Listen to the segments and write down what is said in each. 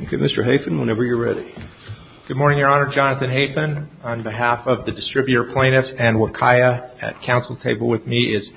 Okay, Mr. Hafen, whenever you're ready. Good morning, Your Honor. Jonathan Hafen, on behalf of the distributor plaintiffs and Wakaya at council table with me is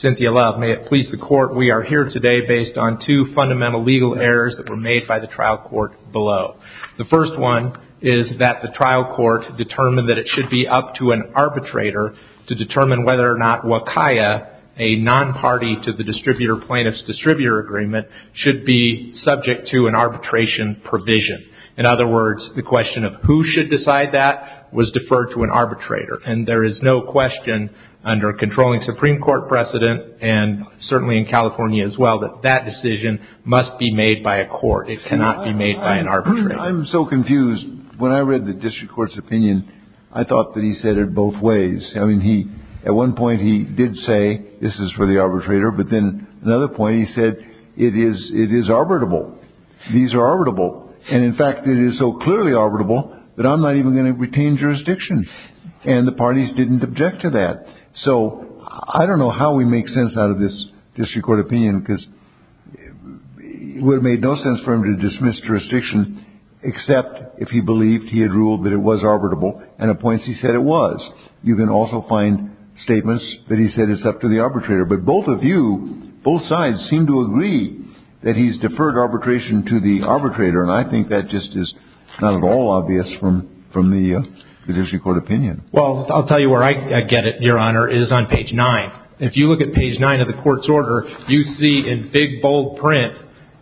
Cynthia Love. May it please the court, we are here today based on two fundamental legal errors that were made by the trial court below. The first one is that the trial court determined that it should be up to an arbitrator to determine whether or not Wakaya, a non-party to the plaintiff's distributor agreement, should be subject to an arbitration provision. In other words, the question of who should decide that was deferred to an arbitrator. And there is no question under a controlling Supreme Court precedent, and certainly in California as well, that that decision must be made by a court. It cannot be made by an arbitrator. I'm so confused. When I read the district court's opinion, I thought that he said it was up to the arbitrator. But then another point he said, it is, it is arbitrable. These are arbitrable. And in fact, it is so clearly arbitrable that I'm not even going to retain jurisdiction. And the parties didn't object to that. So I don't know how we make sense out of this district court opinion, because it would have made no sense for him to dismiss jurisdiction except if he believed he had ruled that it was arbitrable. And at points he said it was. You can also find statements that he said it's up to the arbitrator. But both of you, both sides seem to agree that he's deferred arbitration to the arbitrator. And I think that just is not at all obvious from the district court opinion. Well, I'll tell you where I get it, Your Honor, is on page nine. If you look at page nine of the court's order, you see in big, bold print,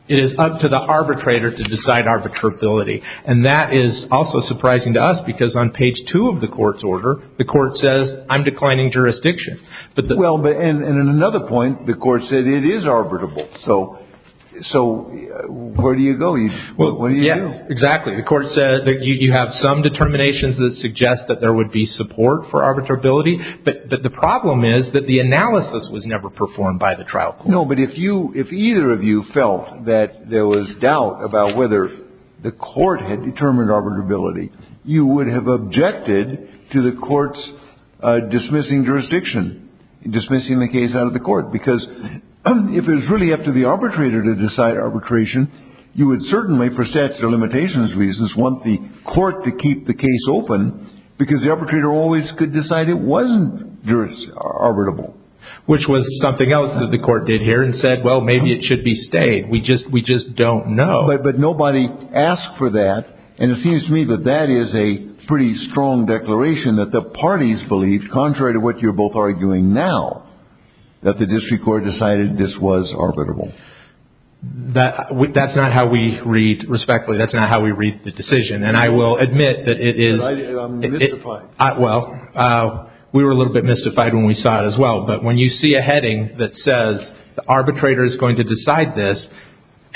it is up to the arbitrator to decide arbitrability. And that is also surprising to us, because on page two of the court's order, the court says, I'm declining jurisdiction. Well, but in another point, the court said it is arbitrable. So where do you go? What do you do? Exactly. The court said that you have some determinations that suggest that there would be support for arbitrability. But the problem is that the analysis was never performed by the trial court. No, but if either of you felt that there was doubt about whether the court had determined arbitrability, you would have objected to the court's dismissing jurisdiction, dismissing the case out of the court. Because if it was really up to the arbitrator to decide arbitration, you would certainly, for statutory limitations reasons, want the court to keep the case open because the arbitrator always could decide it wasn't arbitrable. Which was something else that the court did here and said, well, maybe it should be stayed. We just we just don't know. But nobody asked for that. And it seems to me that that is a pretty strong declaration that the parties believed, contrary to what you're both arguing now, that the district court decided this was arbitrable. That's not how we read, respectfully, that's not how we read the decision. And I will admit that it is. Well, we were a little bit mystified when we saw it as well. But when you see a heading that says the arbitrator is going to decide this,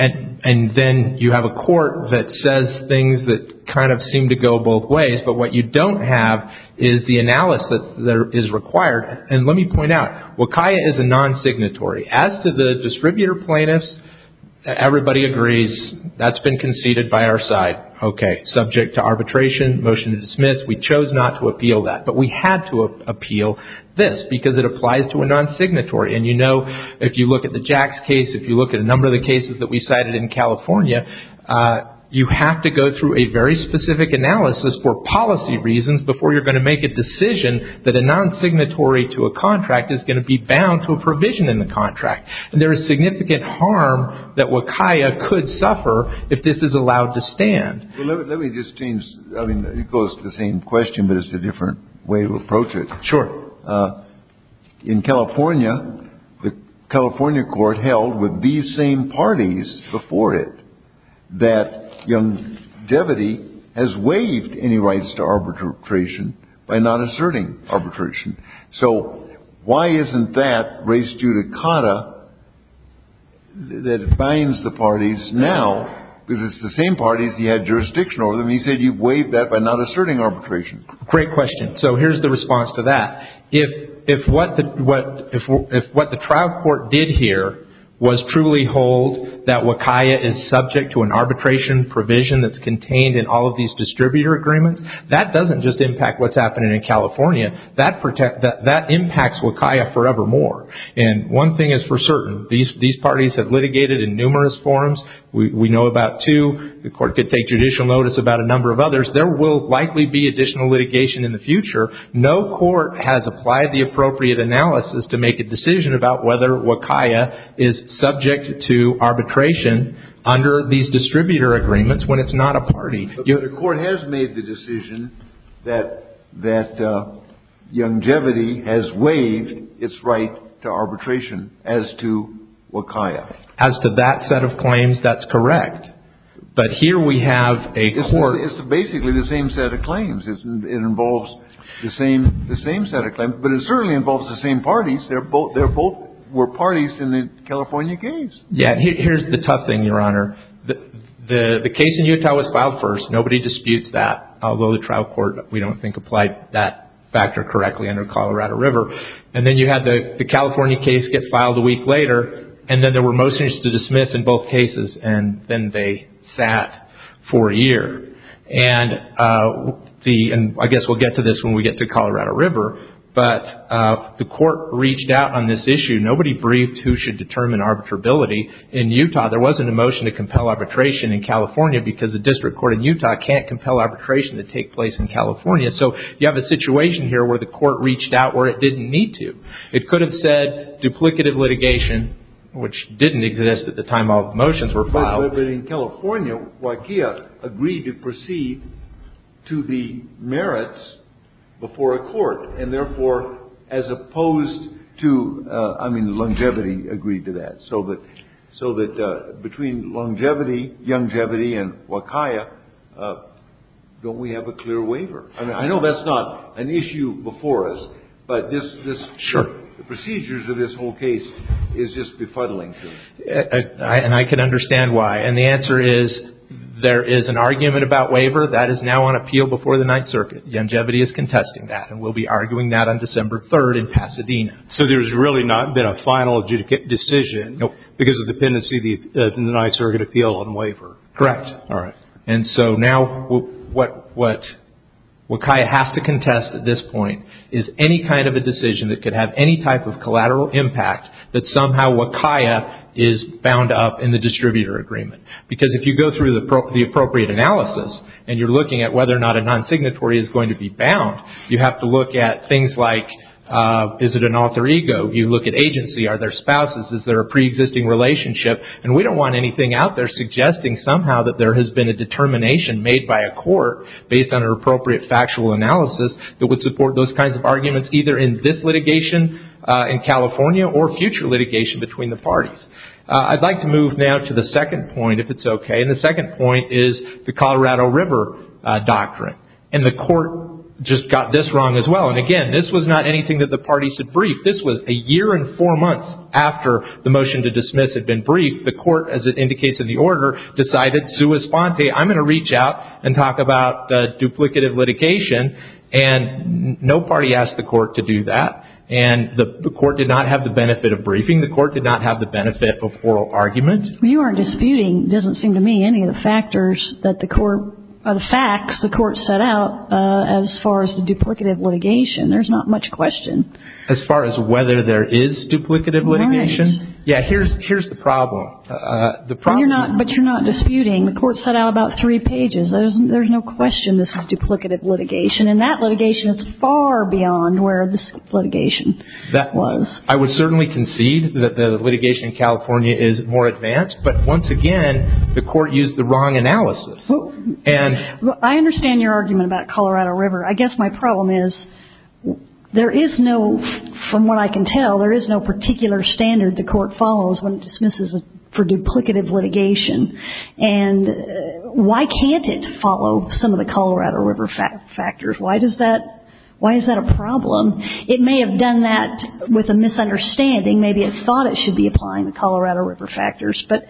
and then you have a court that says things that kind of seem to go both ways, but what you don't have is the analysis that is required. And let me point out, WCAIA is a non-signatory. As to the distributor plaintiffs, everybody agrees that's been conceded by our side. Okay, subject to arbitration, motion to dismiss, we chose not to appeal that. But we had to appeal this because it applies to non-signatory. And you know, if you look at the Jacks case, if you look at a number of the cases that we cited in California, you have to go through a very specific analysis for policy reasons before you're going to make a decision that a non-signatory to a contract is going to be bound to a provision in the contract. And there is significant harm that WCAIA could suffer if this is allowed to stand. Let me just change. I mean, it goes to the same question, but it's a different way to look at it. In California, the California court held with these same parties before it that Young-Devity has waived any rights to arbitration by not asserting arbitration. So why isn't that race due to Cotta that binds the parties now, because it's the same parties he had jurisdiction over them. He said you've waived that by not asserting arbitration. Great question. So here's the response to that. If what the trial court did here was truly hold that WCAIA is subject to an arbitration provision that's contained in all of these distributor agreements, that doesn't just impact what's happening in California. That impacts WCAIA forevermore. And one thing is for certain, these parties have litigated in numerous forms. We know about two. The court could take judicial notice about a number of others. There will likely be additional litigation in the future. No court has applied the appropriate analysis to make a decision about whether WCAIA is subject to arbitration under these distributor agreements when it's not a party. But the court has made the decision that Young-Devity has waived its right to arbitration as to WCAIA. As to that set of claims, that's correct. But here we have a court... It's basically the same set of claims. It involves the same set of claims. But it certainly involves the same parties. They both were parties in the California case. Yeah. Here's the tough thing, Your Honor. The case in Utah was filed first. Nobody disputes that, although the trial court, we don't think, applied that factor correctly under Colorado River. And then you had the California case get filed a week later. And then there were motions to dismiss in both cases. And then they sat for a year. I guess we'll get to this when we get to Colorado River. But the court reached out on this issue. Nobody briefed who should determine arbitrability in Utah. There wasn't a motion to compel arbitration in California because the district court in Utah can't compel arbitration to take place in California. So you have a situation here where the court reached out where it didn't need to. It could have said duplicative litigation, which didn't exist at the time all the motions were filed. But in California, WCAIA agreed to proceed to the merits before a court. And therefore, as opposed to... I mean, longevity agreed to that. So that between longevity and WCAIA, don't we have a clear waiver? I know that's not an issue before us, but the procedures of this whole case is just befuddling to me. And I can understand why. And the answer is, there is an argument about waiver. That is now on appeal before the Ninth Circuit. Longevity is contesting that and will be arguing that on December 3rd in Pasadena. So there's really not been a final decision because of dependency in the Ninth Circuit appeal on waiver. Correct. And so now what WCAIA has to contest at this point is any kind of a decision that could have any type of collateral impact that somehow WCAIA is bound up in the distributor agreement. Because if you go through the appropriate analysis and you're looking at whether or not a non-signatory is going to be bound, you have to look at things like, is it an alter ego? You look at agency. Are there spouses? Is there a pre-existing relationship? And we don't want anything out there suggesting somehow that there has been a determination made by a court based on an appropriate factual analysis that would support those kinds of arguments either in this litigation in California or future litigation between the parties. I'd like to move now to the second point, if it's okay. And the second point is the Colorado River Doctrine. And the court just got this wrong as well. And again, this was not anything that the parties had briefed. This was a year and four months after the court, as it indicates in the order, decided, sua sponte, I'm going to reach out and talk about duplicative litigation. And no party asked the court to do that. And the court did not have the benefit of briefing. The court did not have the benefit of oral argument. You aren't disputing, it doesn't seem to me, any of the factors that the court, or the facts the court set out as far as the duplicative litigation. There's not much question. As far as whether there is duplicative litigation, yeah, here's the problem. But you're not disputing. The court set out about three pages. There's no question this is duplicative litigation. And that litigation is far beyond where this litigation was. I would certainly concede that the litigation in California is more advanced. But once again, the court used the wrong analysis. I understand your argument about Colorado River. I guess my problem is there is no, from what I can tell, there is no particular standard the court follows when it dismisses for duplicative litigation. And why can't it follow some of the Colorado River factors? Why does that, why is that a problem? It may have done that with a misunderstanding. Maybe it thought it should be applying the Colorado River factors. But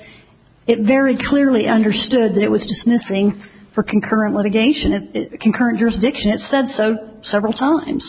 it very clearly understood that it was dismissing for concurrent litigation, concurrent jurisdiction. It said so several times.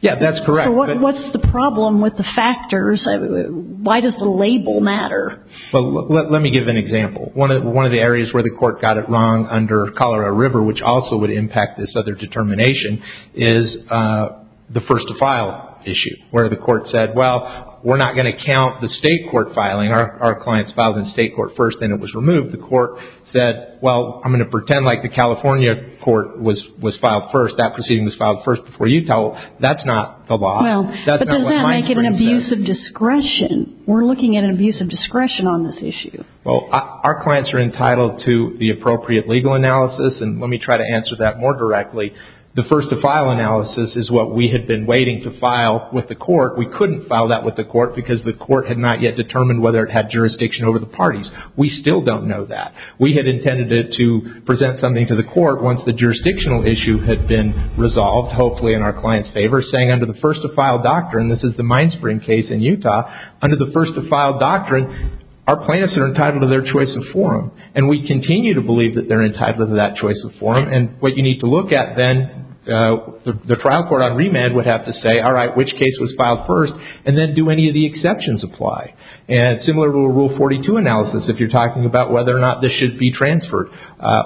Yeah, that's correct. So what's the problem with the factors? Why does the label matter? Let me give an example. One of the areas where the court got it wrong under Colorado River, which also would impact this other determination, is the first to file issue, where the court said, well, we're not going to count the state court filing. Our clients filed in state court first, then it was removed. The court said, well, I'm going to pretend like the California court was filed first, that proceeding was filed first before Utah. That's not the law. Well, but doesn't that make it an abuse of discretion? We're looking at an abuse of discretion on this issue. Well, our clients are entitled to the appropriate legal analysis. And let me try to answer that more directly. The first to file analysis is what we had been waiting to file with the court. We couldn't file that with the court because the court had not yet determined whether it had jurisdiction over the parties. We still don't know that. We had intended to present something to the court once the jurisdictional issue had been resolved, hopefully in our client's favor, saying under the first to file doctrine, this is the Minespring case in Utah, under the first to file doctrine, our plaintiffs are entitled to their choice of forum. And we continue to believe that they're entitled to that choice of forum. And what you need to look at then, the trial court on remand would have to say, all right, which case was filed first? And then do any of the exceptions apply? And similar to a Rule 42 analysis, if you're talking about whether or not this should be transferred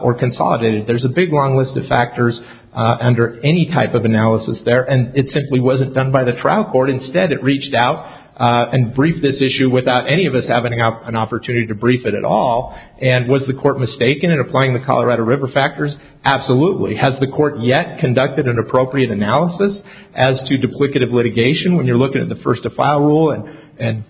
or consolidated, there's a big long list of factors under any type of analysis there. And it simply wasn't done by the trial court. Instead, it reached out and briefed this issue without any of us having an opportunity to brief it at all. And was the court mistaken in applying the Colorado River factors? Absolutely. Has the court yet conducted an appropriate analysis as to duplicative litigation when you're looking at the first to file rule? And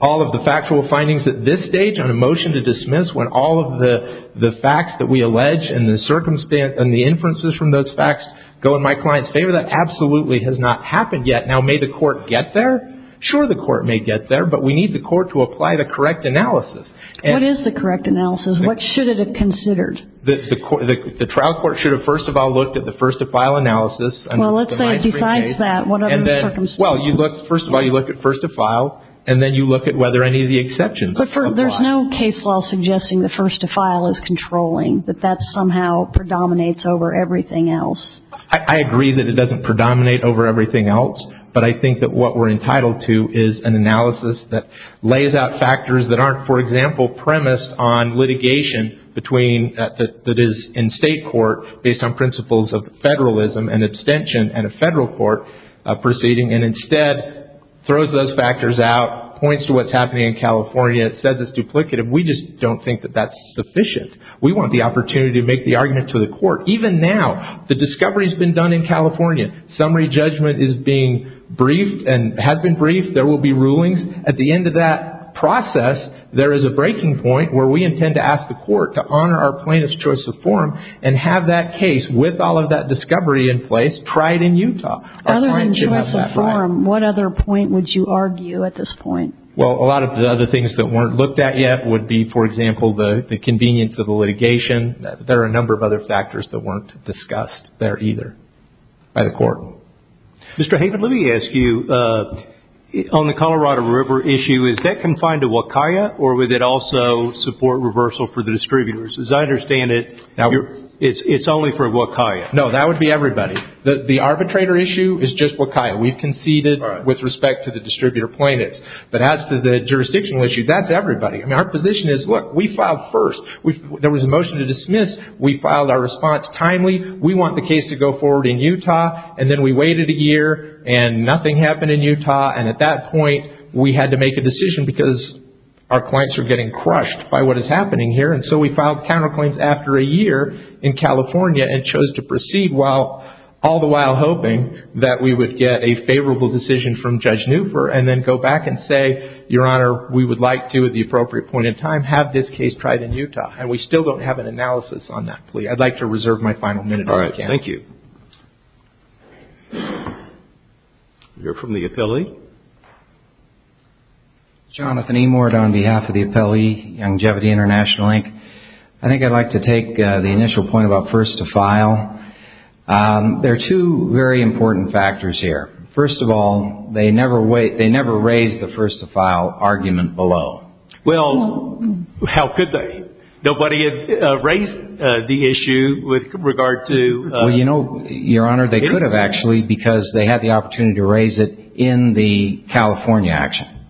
all of the factual findings at this stage on a motion to dismiss when all of the facts that we allege and the circumstances and the inferences from those facts go in my client's favor? That absolutely has not happened yet. Now, may the court get there? Sure, the court may get there, but we need the court to apply the correct analysis. What is the correct analysis? What should it have considered? The trial court should have first of all looked at the first to file analysis. Well, let's say besides that, what other circumstances? Well, first of all, you look at first to file, and then you look at whether any of the exceptions apply. There's no case law suggesting the first to file is controlling, that that somehow predominates over everything else. I agree that it doesn't predominate over everything else, but I think that what we're entitled to is an analysis that lays out factors that aren't, for example, premised on litigation between, that is, in state court based on principles of federalism and abstention and a federal court proceeding, and instead throws those factors out, points to what's happening in California, says it's duplicative. We just don't think that that's sufficient. We want the opportunity to make the argument to the court. Even now, the discovery's been done in California. Summary judgment is being briefed and has been briefed. There will be rulings. At the end of that process, there is a breaking point where we intend to ask the court to honor our plaintiff's choice of form and have that case, with all of that discovery in place, tried in Utah. Other than choice of form, what other point would you argue at this point? Well, a lot of the other things that weren't looked at yet would be, for example, the convenience of the litigation. There are a number of other factors that weren't discussed there either by the court. Mr. Haven, let me ask you, on the Colorado River issue, is that confined to Waukega, or would it also support reversal for the distributors? As I understand it, it's only for Waukega. No, that would be everybody. The arbitrator issue is just Waukega. We've conceded with respect to the distributor plaintiffs. But as to the jurisdictional issue, that's everybody. Our position is, look, we filed first. There was a motion to dismiss. We filed our response timely. We want the case to go forward in Utah. And then we waited a year, and nothing happened in Utah. And at that point, we had to make a decision because our clients are getting crushed by what is happening here. And so we filed counterclaims after a year in California and chose to proceed while all the while hoping that we would get a favorable decision from Judge Neufer, and then go back and say, Your Honor, we would like to, at the appropriate point in time, have this case tried in Utah. And we still don't have an analysis on that plea. I'd like to reserve my final minute if I can. Thank you. You're from the Appellee. Jonathan Emord on behalf of the Appellee Longevity International, Inc. I think I'd like to take the initial point about first to file. There are two very important factors here. First of all, they never raised the first to file argument below. Well, how could they? Nobody had raised the issue with regard to... Your Honor, they could have actually, because they had the opportunity to raise it in the California action.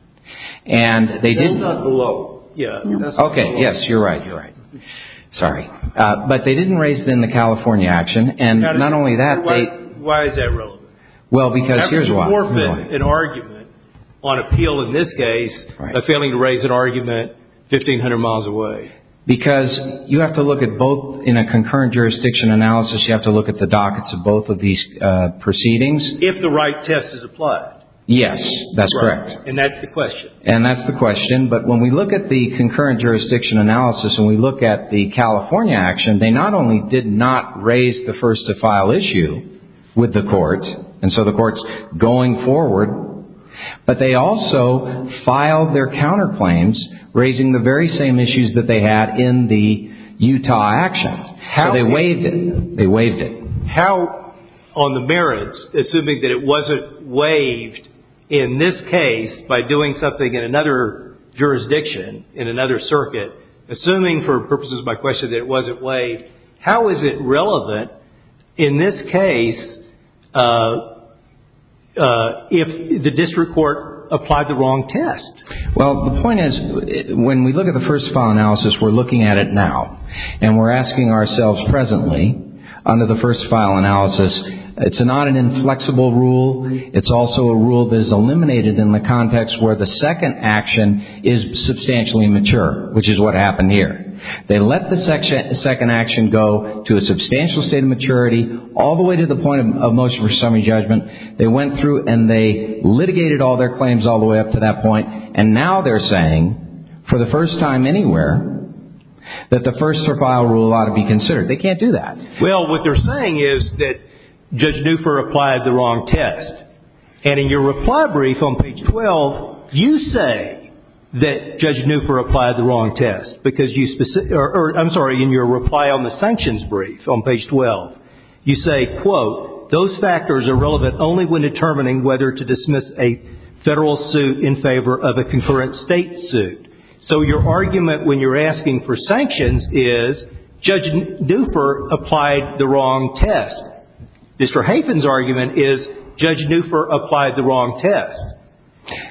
And they did not below. Okay, yes, you're right, you're right. Sorry. But they didn't raise it in the California action. And not only that, they... Why is that relevant? Well, because here's why. They haven't forfeited an argument on appeal in this case by failing to raise an argument 1,500 miles away. Because you have to look at both, in a concurrent jurisdiction analysis, you have to look at the dockets of both of these proceedings. If the right test is applied. Yes, that's correct. And that's the question. And that's the question. But when we look at the concurrent jurisdiction analysis and we look at the California action, they not only did not raise the first to file issue with the court, and so the court's going forward, but they also filed their counterclaims, raising the very same issues that they had in the Utah action. So they waived it, they waived it. How on the merits, assuming that it wasn't waived in this case by doing something in another jurisdiction, in another circuit, assuming for purposes of my question that it wasn't waived, how is it relevant in this case if the district court applied the wrong test? Well, the point is, when we look at the first file analysis, we're looking at it now. And we're asking ourselves presently, under the first file analysis, it's not an inflexible rule, it's also a rule that is eliminated in the context where the second action is substantially mature, which is what happened here. They let the second action go to a substantial state of maturity, all the way to the point of motion for summary judgment, they went through and they litigated all their claims all the way up to that point, and now they're saying, for the first time anywhere, that the first to file rule ought to be considered. They can't do that. Well, what they're saying is that Judge Newfor applied the wrong test. And in your reply brief on page 12, you say that Judge Newfor applied the wrong test, because you specifically, I'm sorry, in your reply on the sanctions brief on page 12, you say, quote, those factors are relevant only when determining whether to dismiss a federal suit in favor of a concurrent state suit. So your argument when you're asking for sanctions is Judge Newfor applied the wrong test. Mr. Hafen's argument is Judge Newfor applied the wrong test.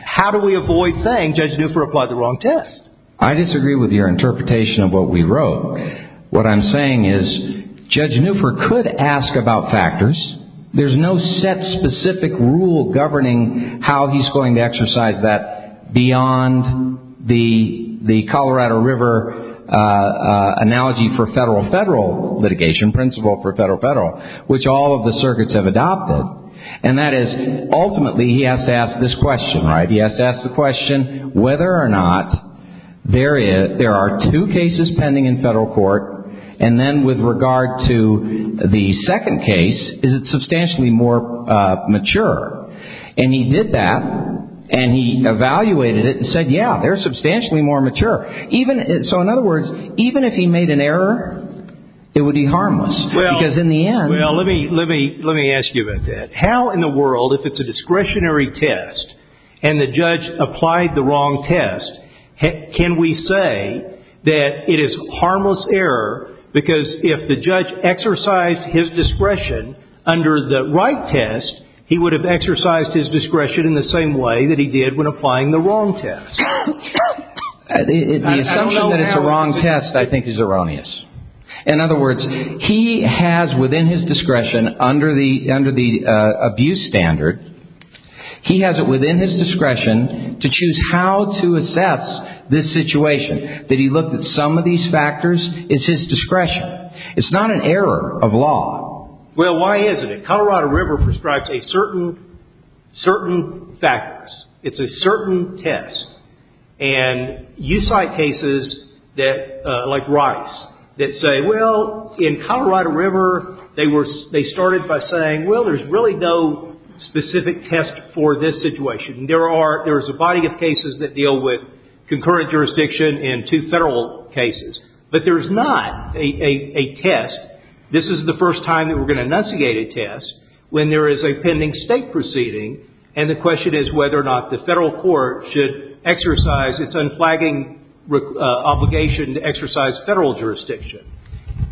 How do we avoid saying Judge Newfor applied the wrong test? I disagree with your interpretation of what we wrote. What I'm saying is Judge Newfor could ask about factors. There's no set specific rule governing how he's going to exercise that beyond the Colorado River analogy for federal-federal litigation, principle for federal-federal, which all of the circuits have adopted. And that is, ultimately, he has to ask this question, right, he has to ask the question whether or not there are two cases pending in federal court, and then with regard to the second case, is it substantially more mature? And he did that, and he evaluated it and said, yeah, they're substantially more mature. So in other words, even if he made an error, it would be harmless, because in the end – Well, let me ask you about that. How in the world, if it's a discretionary test, and the judge applied the wrong test, can we say that it is harmless error, because if the judge exercised his discretion under the right test, he would have exercised his discretion in the same way that he did when applying the wrong test? The assumption that it's a wrong test, I think, is erroneous. In other words, he has, within his discretion, under the abuse standard, he has it within his discretion to choose how to assess this situation, that he looked at some of these factors, it's his discretion. It's not an error of law. Well, why isn't it? Colorado River prescribes a certain – certain factors. It's a certain test. And you cite cases that, like Rice, that say, well, in Colorado River, they were – they started by saying, well, there's really no specific test for this situation. There are – there's a body of cases that deal with concurrent jurisdiction and two federal cases. But there's not a test. This is the first time that we're going to investigate a test when there is a pending state proceeding, and the question is whether or not the federal court should exercise its unflagging obligation to exercise federal jurisdiction.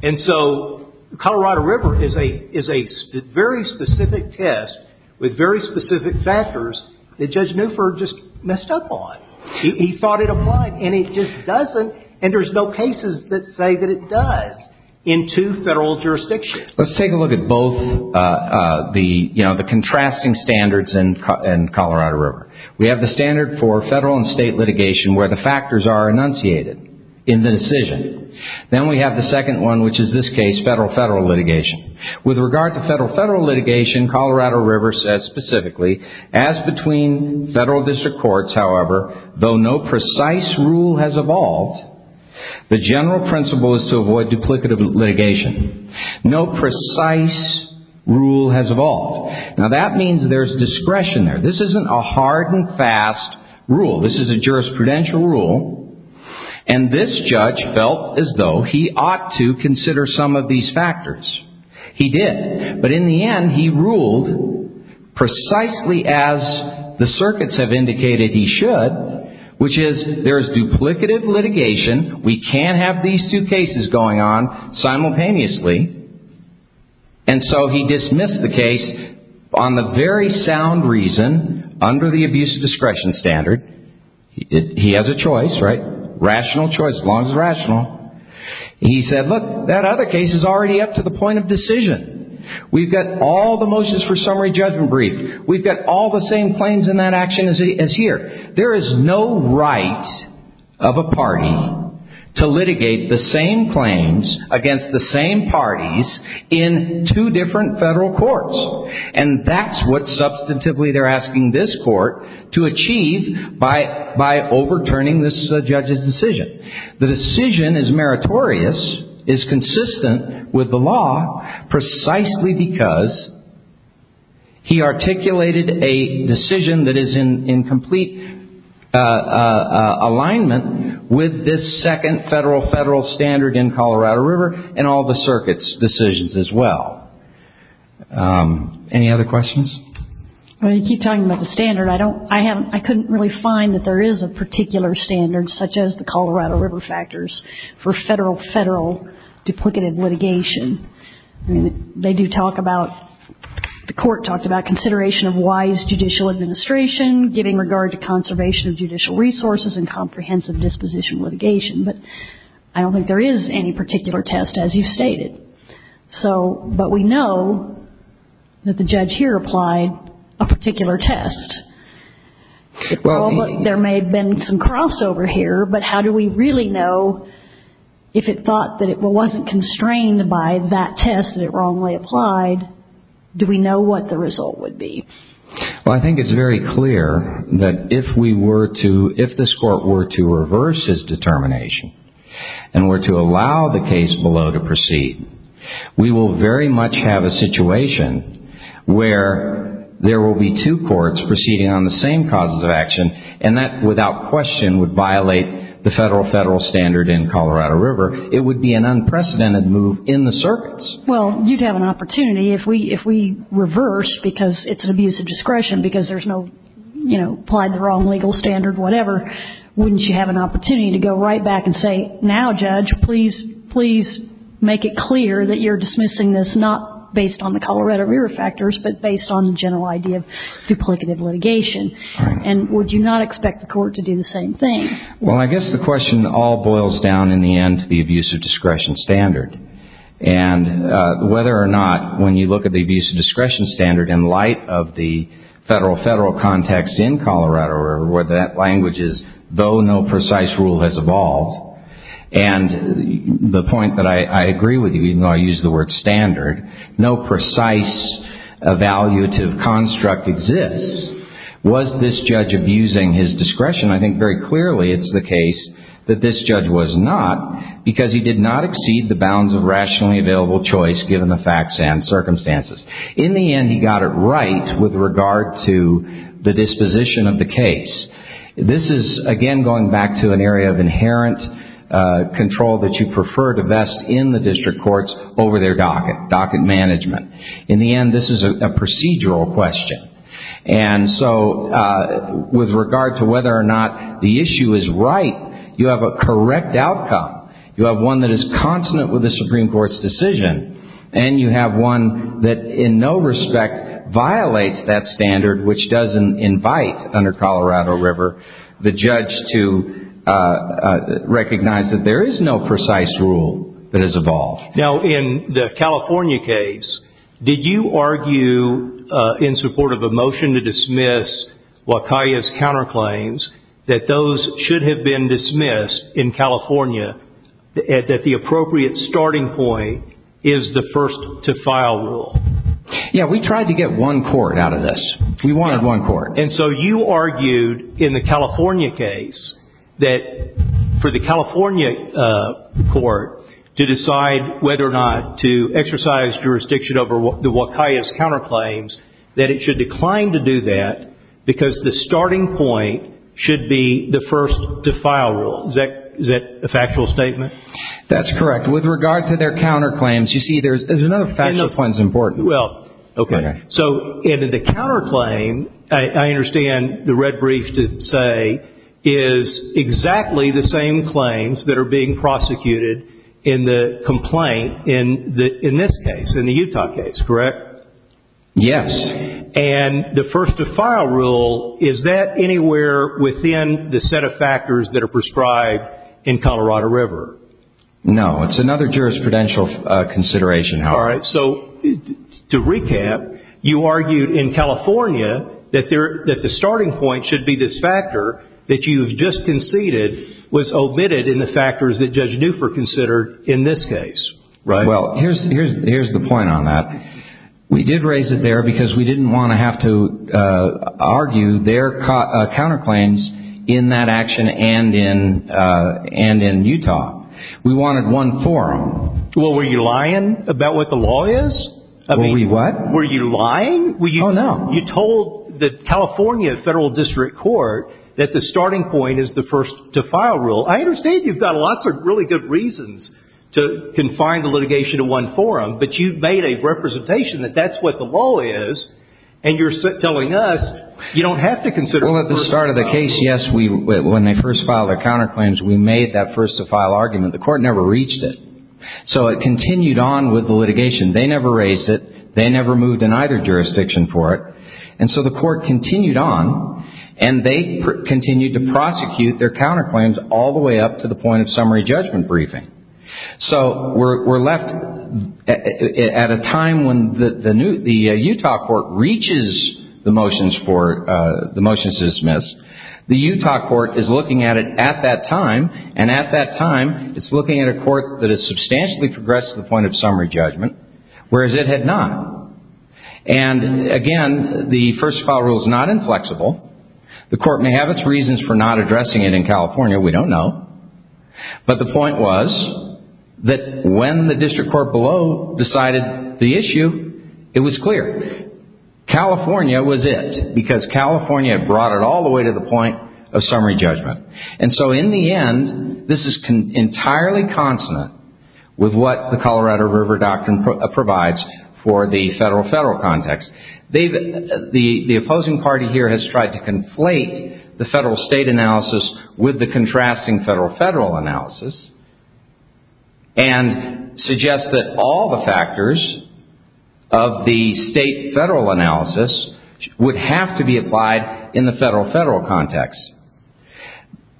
And so Colorado River is a – is a very specific test with very specific factors that Judge Newford just messed up on. He thought it applied, and it just doesn't, and there's no cases that say that it does in two federal jurisdictions. Let's take a look at both the, you know, the contrasting standards in Colorado River. We have the standard for federal and state litigation where the factors are enunciated in the decision. Then we have the second one, which is this case, federal-federal litigation. With regard to federal-federal litigation, Colorado River says specifically, as between federal district courts, however, though no precise rule has evolved, the general principle is to avoid duplicative litigation. No precise rule has evolved. Now that means there's discretion there. This isn't a hard and fast rule. This is a jurisprudential rule, and this judge felt as though he ought to consider some of these factors. He did, but in the end, he ruled precisely as the circuits have indicated he should, which is there's duplicative litigation. We can't have these two cases going on simultaneously, and so he dismissed the case on the very sound reason under the abuse of discretion standard. He has a choice, right? Rational choice, as long as it's rational. He said, look, that other case is already up to the point of decision. We've got all the motions for summary judgment briefed. We've got all the same claims in that action as here. There is no right of a party to litigate the same claims against the same parties in two different federal courts, and that's what substantively they're asking this court to achieve by overturning this judge's decision. The decision is meritorious, is consistent with the law, precisely because he articulated a decision that is in complete alignment with this second federal-federal standard in Colorado River and all the circuits' decisions as well. Any other questions? Well, you keep talking about the standard. I couldn't really find that there is a particular standard such as the Colorado River factors for federal-federal duplicative litigation. I mean, they do talk about, the court talked about consideration of wise judicial administration, giving regard to conservation of judicial resources and comprehensive disposition litigation, but I don't think there is any particular test, as you stated. So, but we know that the judge here applied a particular test. Well, there may have been some crossover here, but how do we really know if it thought that it wasn't constrained by that test and it wrongly applied, do we know what the result would be? Well, I think it's very clear that if we were to, if this court were to reverse his determination and were to allow the case below to proceed, we will very much have a situation where there will be two courts proceeding on the same causes of action, and that without question would violate the federal-federal standard in Colorado River. It would be an unprecedented move in the circuits. Well, you'd have an opportunity, if we reverse, because it's an abuse of discretion, because there's no, you know, applied the wrong legal standard, whatever, wouldn't you have an opportunity to go right back and say, now, Judge, please, please make it clear that you're dismissing this not based on the Colorado River factors, but based on the general idea of duplicative litigation? And would you not expect the court to do the same thing? Well, I guess the question all boils down, in the end, to the abuse of discretion standard, and whether or not, when you look at the abuse of discretion standard in light of the federal-federal context in Colorado River, where that language is, though no precise rule has evolved, and the point that I agree with you, even though I use the word standard, no precise evaluative construct exists. Was this judge abusing his discretion? I think very clearly it's the case that this judge was not, because he did not exceed the bounds of rationally available choice, given the facts and circumstances. In the end, he got it right with regard to the disposition of the case. This is, again, going back to an area of inherent control that you prefer to vest in the district courts over their docket, docket management. In the end, this is a procedural question. And so, with regard to whether or not the issue is right, you have a correct outcome. You have one that is consonant with the Supreme Court's decision, and you have one that, in no respect, violates that standard, which doesn't invite, under Colorado River, the judge to recognize that there is no precise rule that has evolved. Now, in the California case, did you argue, in support of a motion to dismiss Wakaiya's counterclaims, that those should have been dismissed in California, that the appropriate starting point is the first-to-file rule? Yeah, we tried to get one court out of this. We wanted one court. And so you argued, in the California case, that for the California court to decide whether or not to exercise jurisdiction over the Wakaiya's counterclaims, that it should decline to do that, because the starting point should be the first-to-file rule. Is that a factual statement? That's correct. With regard to their counterclaims, you see, there's another factual point that's important. So, in the counterclaim, I understand the red brief to say, is exactly the same claims that are being prosecuted in the complaint, in this case, in the Utah case, correct? Yes. And the first-to-file rule, is that anywhere within the set of factors that are prescribed in Colorado River? No. It's another jurisprudential consideration, however. All right. So, to recap, you argued, in California, that the starting point should be this factor that you've just conceded was omitted in the factors that Judge Newford considered in this case, right? Well, here's the point on that. We did raise it there because we didn't want to have to argue their counterclaims in that action and in Utah. We wanted one for them. Well, were you lying about what the law is? Were we what? Were you lying? Oh, no. You told the California Federal District Court that the starting point is the first-to-file rule. I understand you've got lots of really good reasons to confine the litigation to one forum, but you've made a representation that that's what the law is, and you're telling us you don't have to consider first-to-file. Well, at the start of the case, yes, when they first filed their counterclaims, we made that first-to-file argument. The court never reached it. So it continued on with the litigation. They never raised it. They never moved in either jurisdiction for it. And so the court continued on, and they continued to prosecute their counterclaims all the way up to the point-of-summary judgment briefing. So we're left at a time when the Utah court reaches the motions to dismiss. The Utah court is looking at it at that time, and at that time, it's looking at a court that has substantially progressed to the point-of-summary judgment, whereas it had not. And again, the first-to-file rule is not inflexible. The court may have its reasons for not addressing it in California. We don't know. But the point was that when the district court below decided the issue, it was clear. California was it, because California had brought it all the way to the point-of-summary judgment. And so in the end, this is entirely consonant with what the Colorado River Doctrine provides for the federal-federal context. The opposing party here has tried to conflate the federal-state analysis with the contrasting federal-federal analysis and suggest that all the factors of the state-federal analysis would have to be applied in the federal-federal context.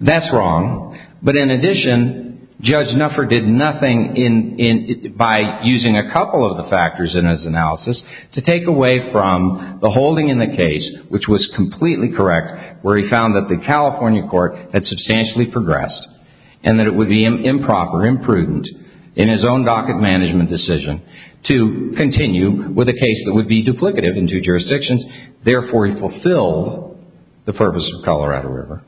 That's wrong. But in addition, Judge Nuffer did nothing by using a couple of the factors in his analysis to take away from the holding in the case, which was completely correct, where he found that the California court had substantially progressed and that it would be improper, imprudent in his own docket management decision to continue with a case that would be duplicative in two jurisdictions. Therefore, he fulfilled the purpose of Colorado River.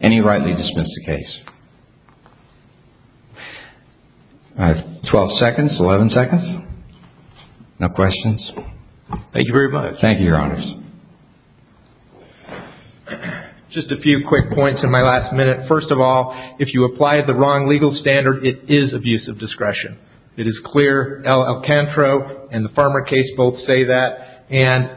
Any who rightly dismiss the case? I have 12 seconds, 11 seconds. No questions? Thank you very much. Thank you, Your Honors. Just a few quick points in my last minute. First of all, if you apply the wrong legal standard, it is abuse of discretion. It is clear. Alcantara and the Farmer case both say that. And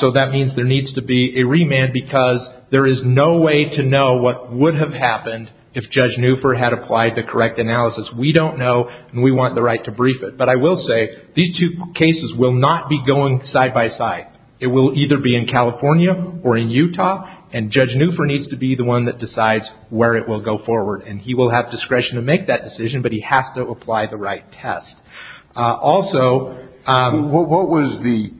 so that means there needs to be a remand because there is no way to know what would have happened if Judge Nuffer had applied the correct analysis. We don't know, and we want the right to brief it. But I will say, these two cases will not be going side by side. It will either be in California or in Utah, and Judge Nuffer needs to be the one that decides where it will go forward. And he will have discretion to make that decision, but he has to apply the right test. What was the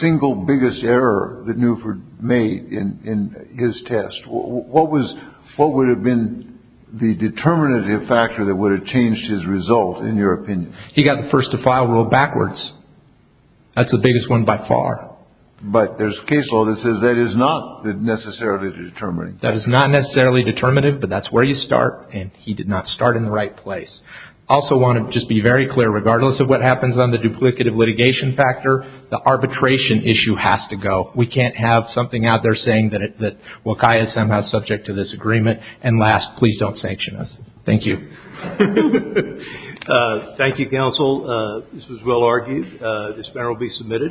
single biggest error that Nuffer made in his test? What would have been the determinative factor that would have changed his result, in your opinion? He got the first to file rule backwards. That's the biggest one by far. But there's a case law that says that is not necessarily determinative. That is not necessarily determinative, but that's where you start, and he did not start in the right place. I also want to just be very clear, regardless of what happens on the duplicative litigation factor, the arbitration issue has to go. We can't have something out there saying that Wakai is somehow subject to this agreement. And last, please don't sanction us. Thank you. Thank you, counsel. This was well argued. This matter will be submitted.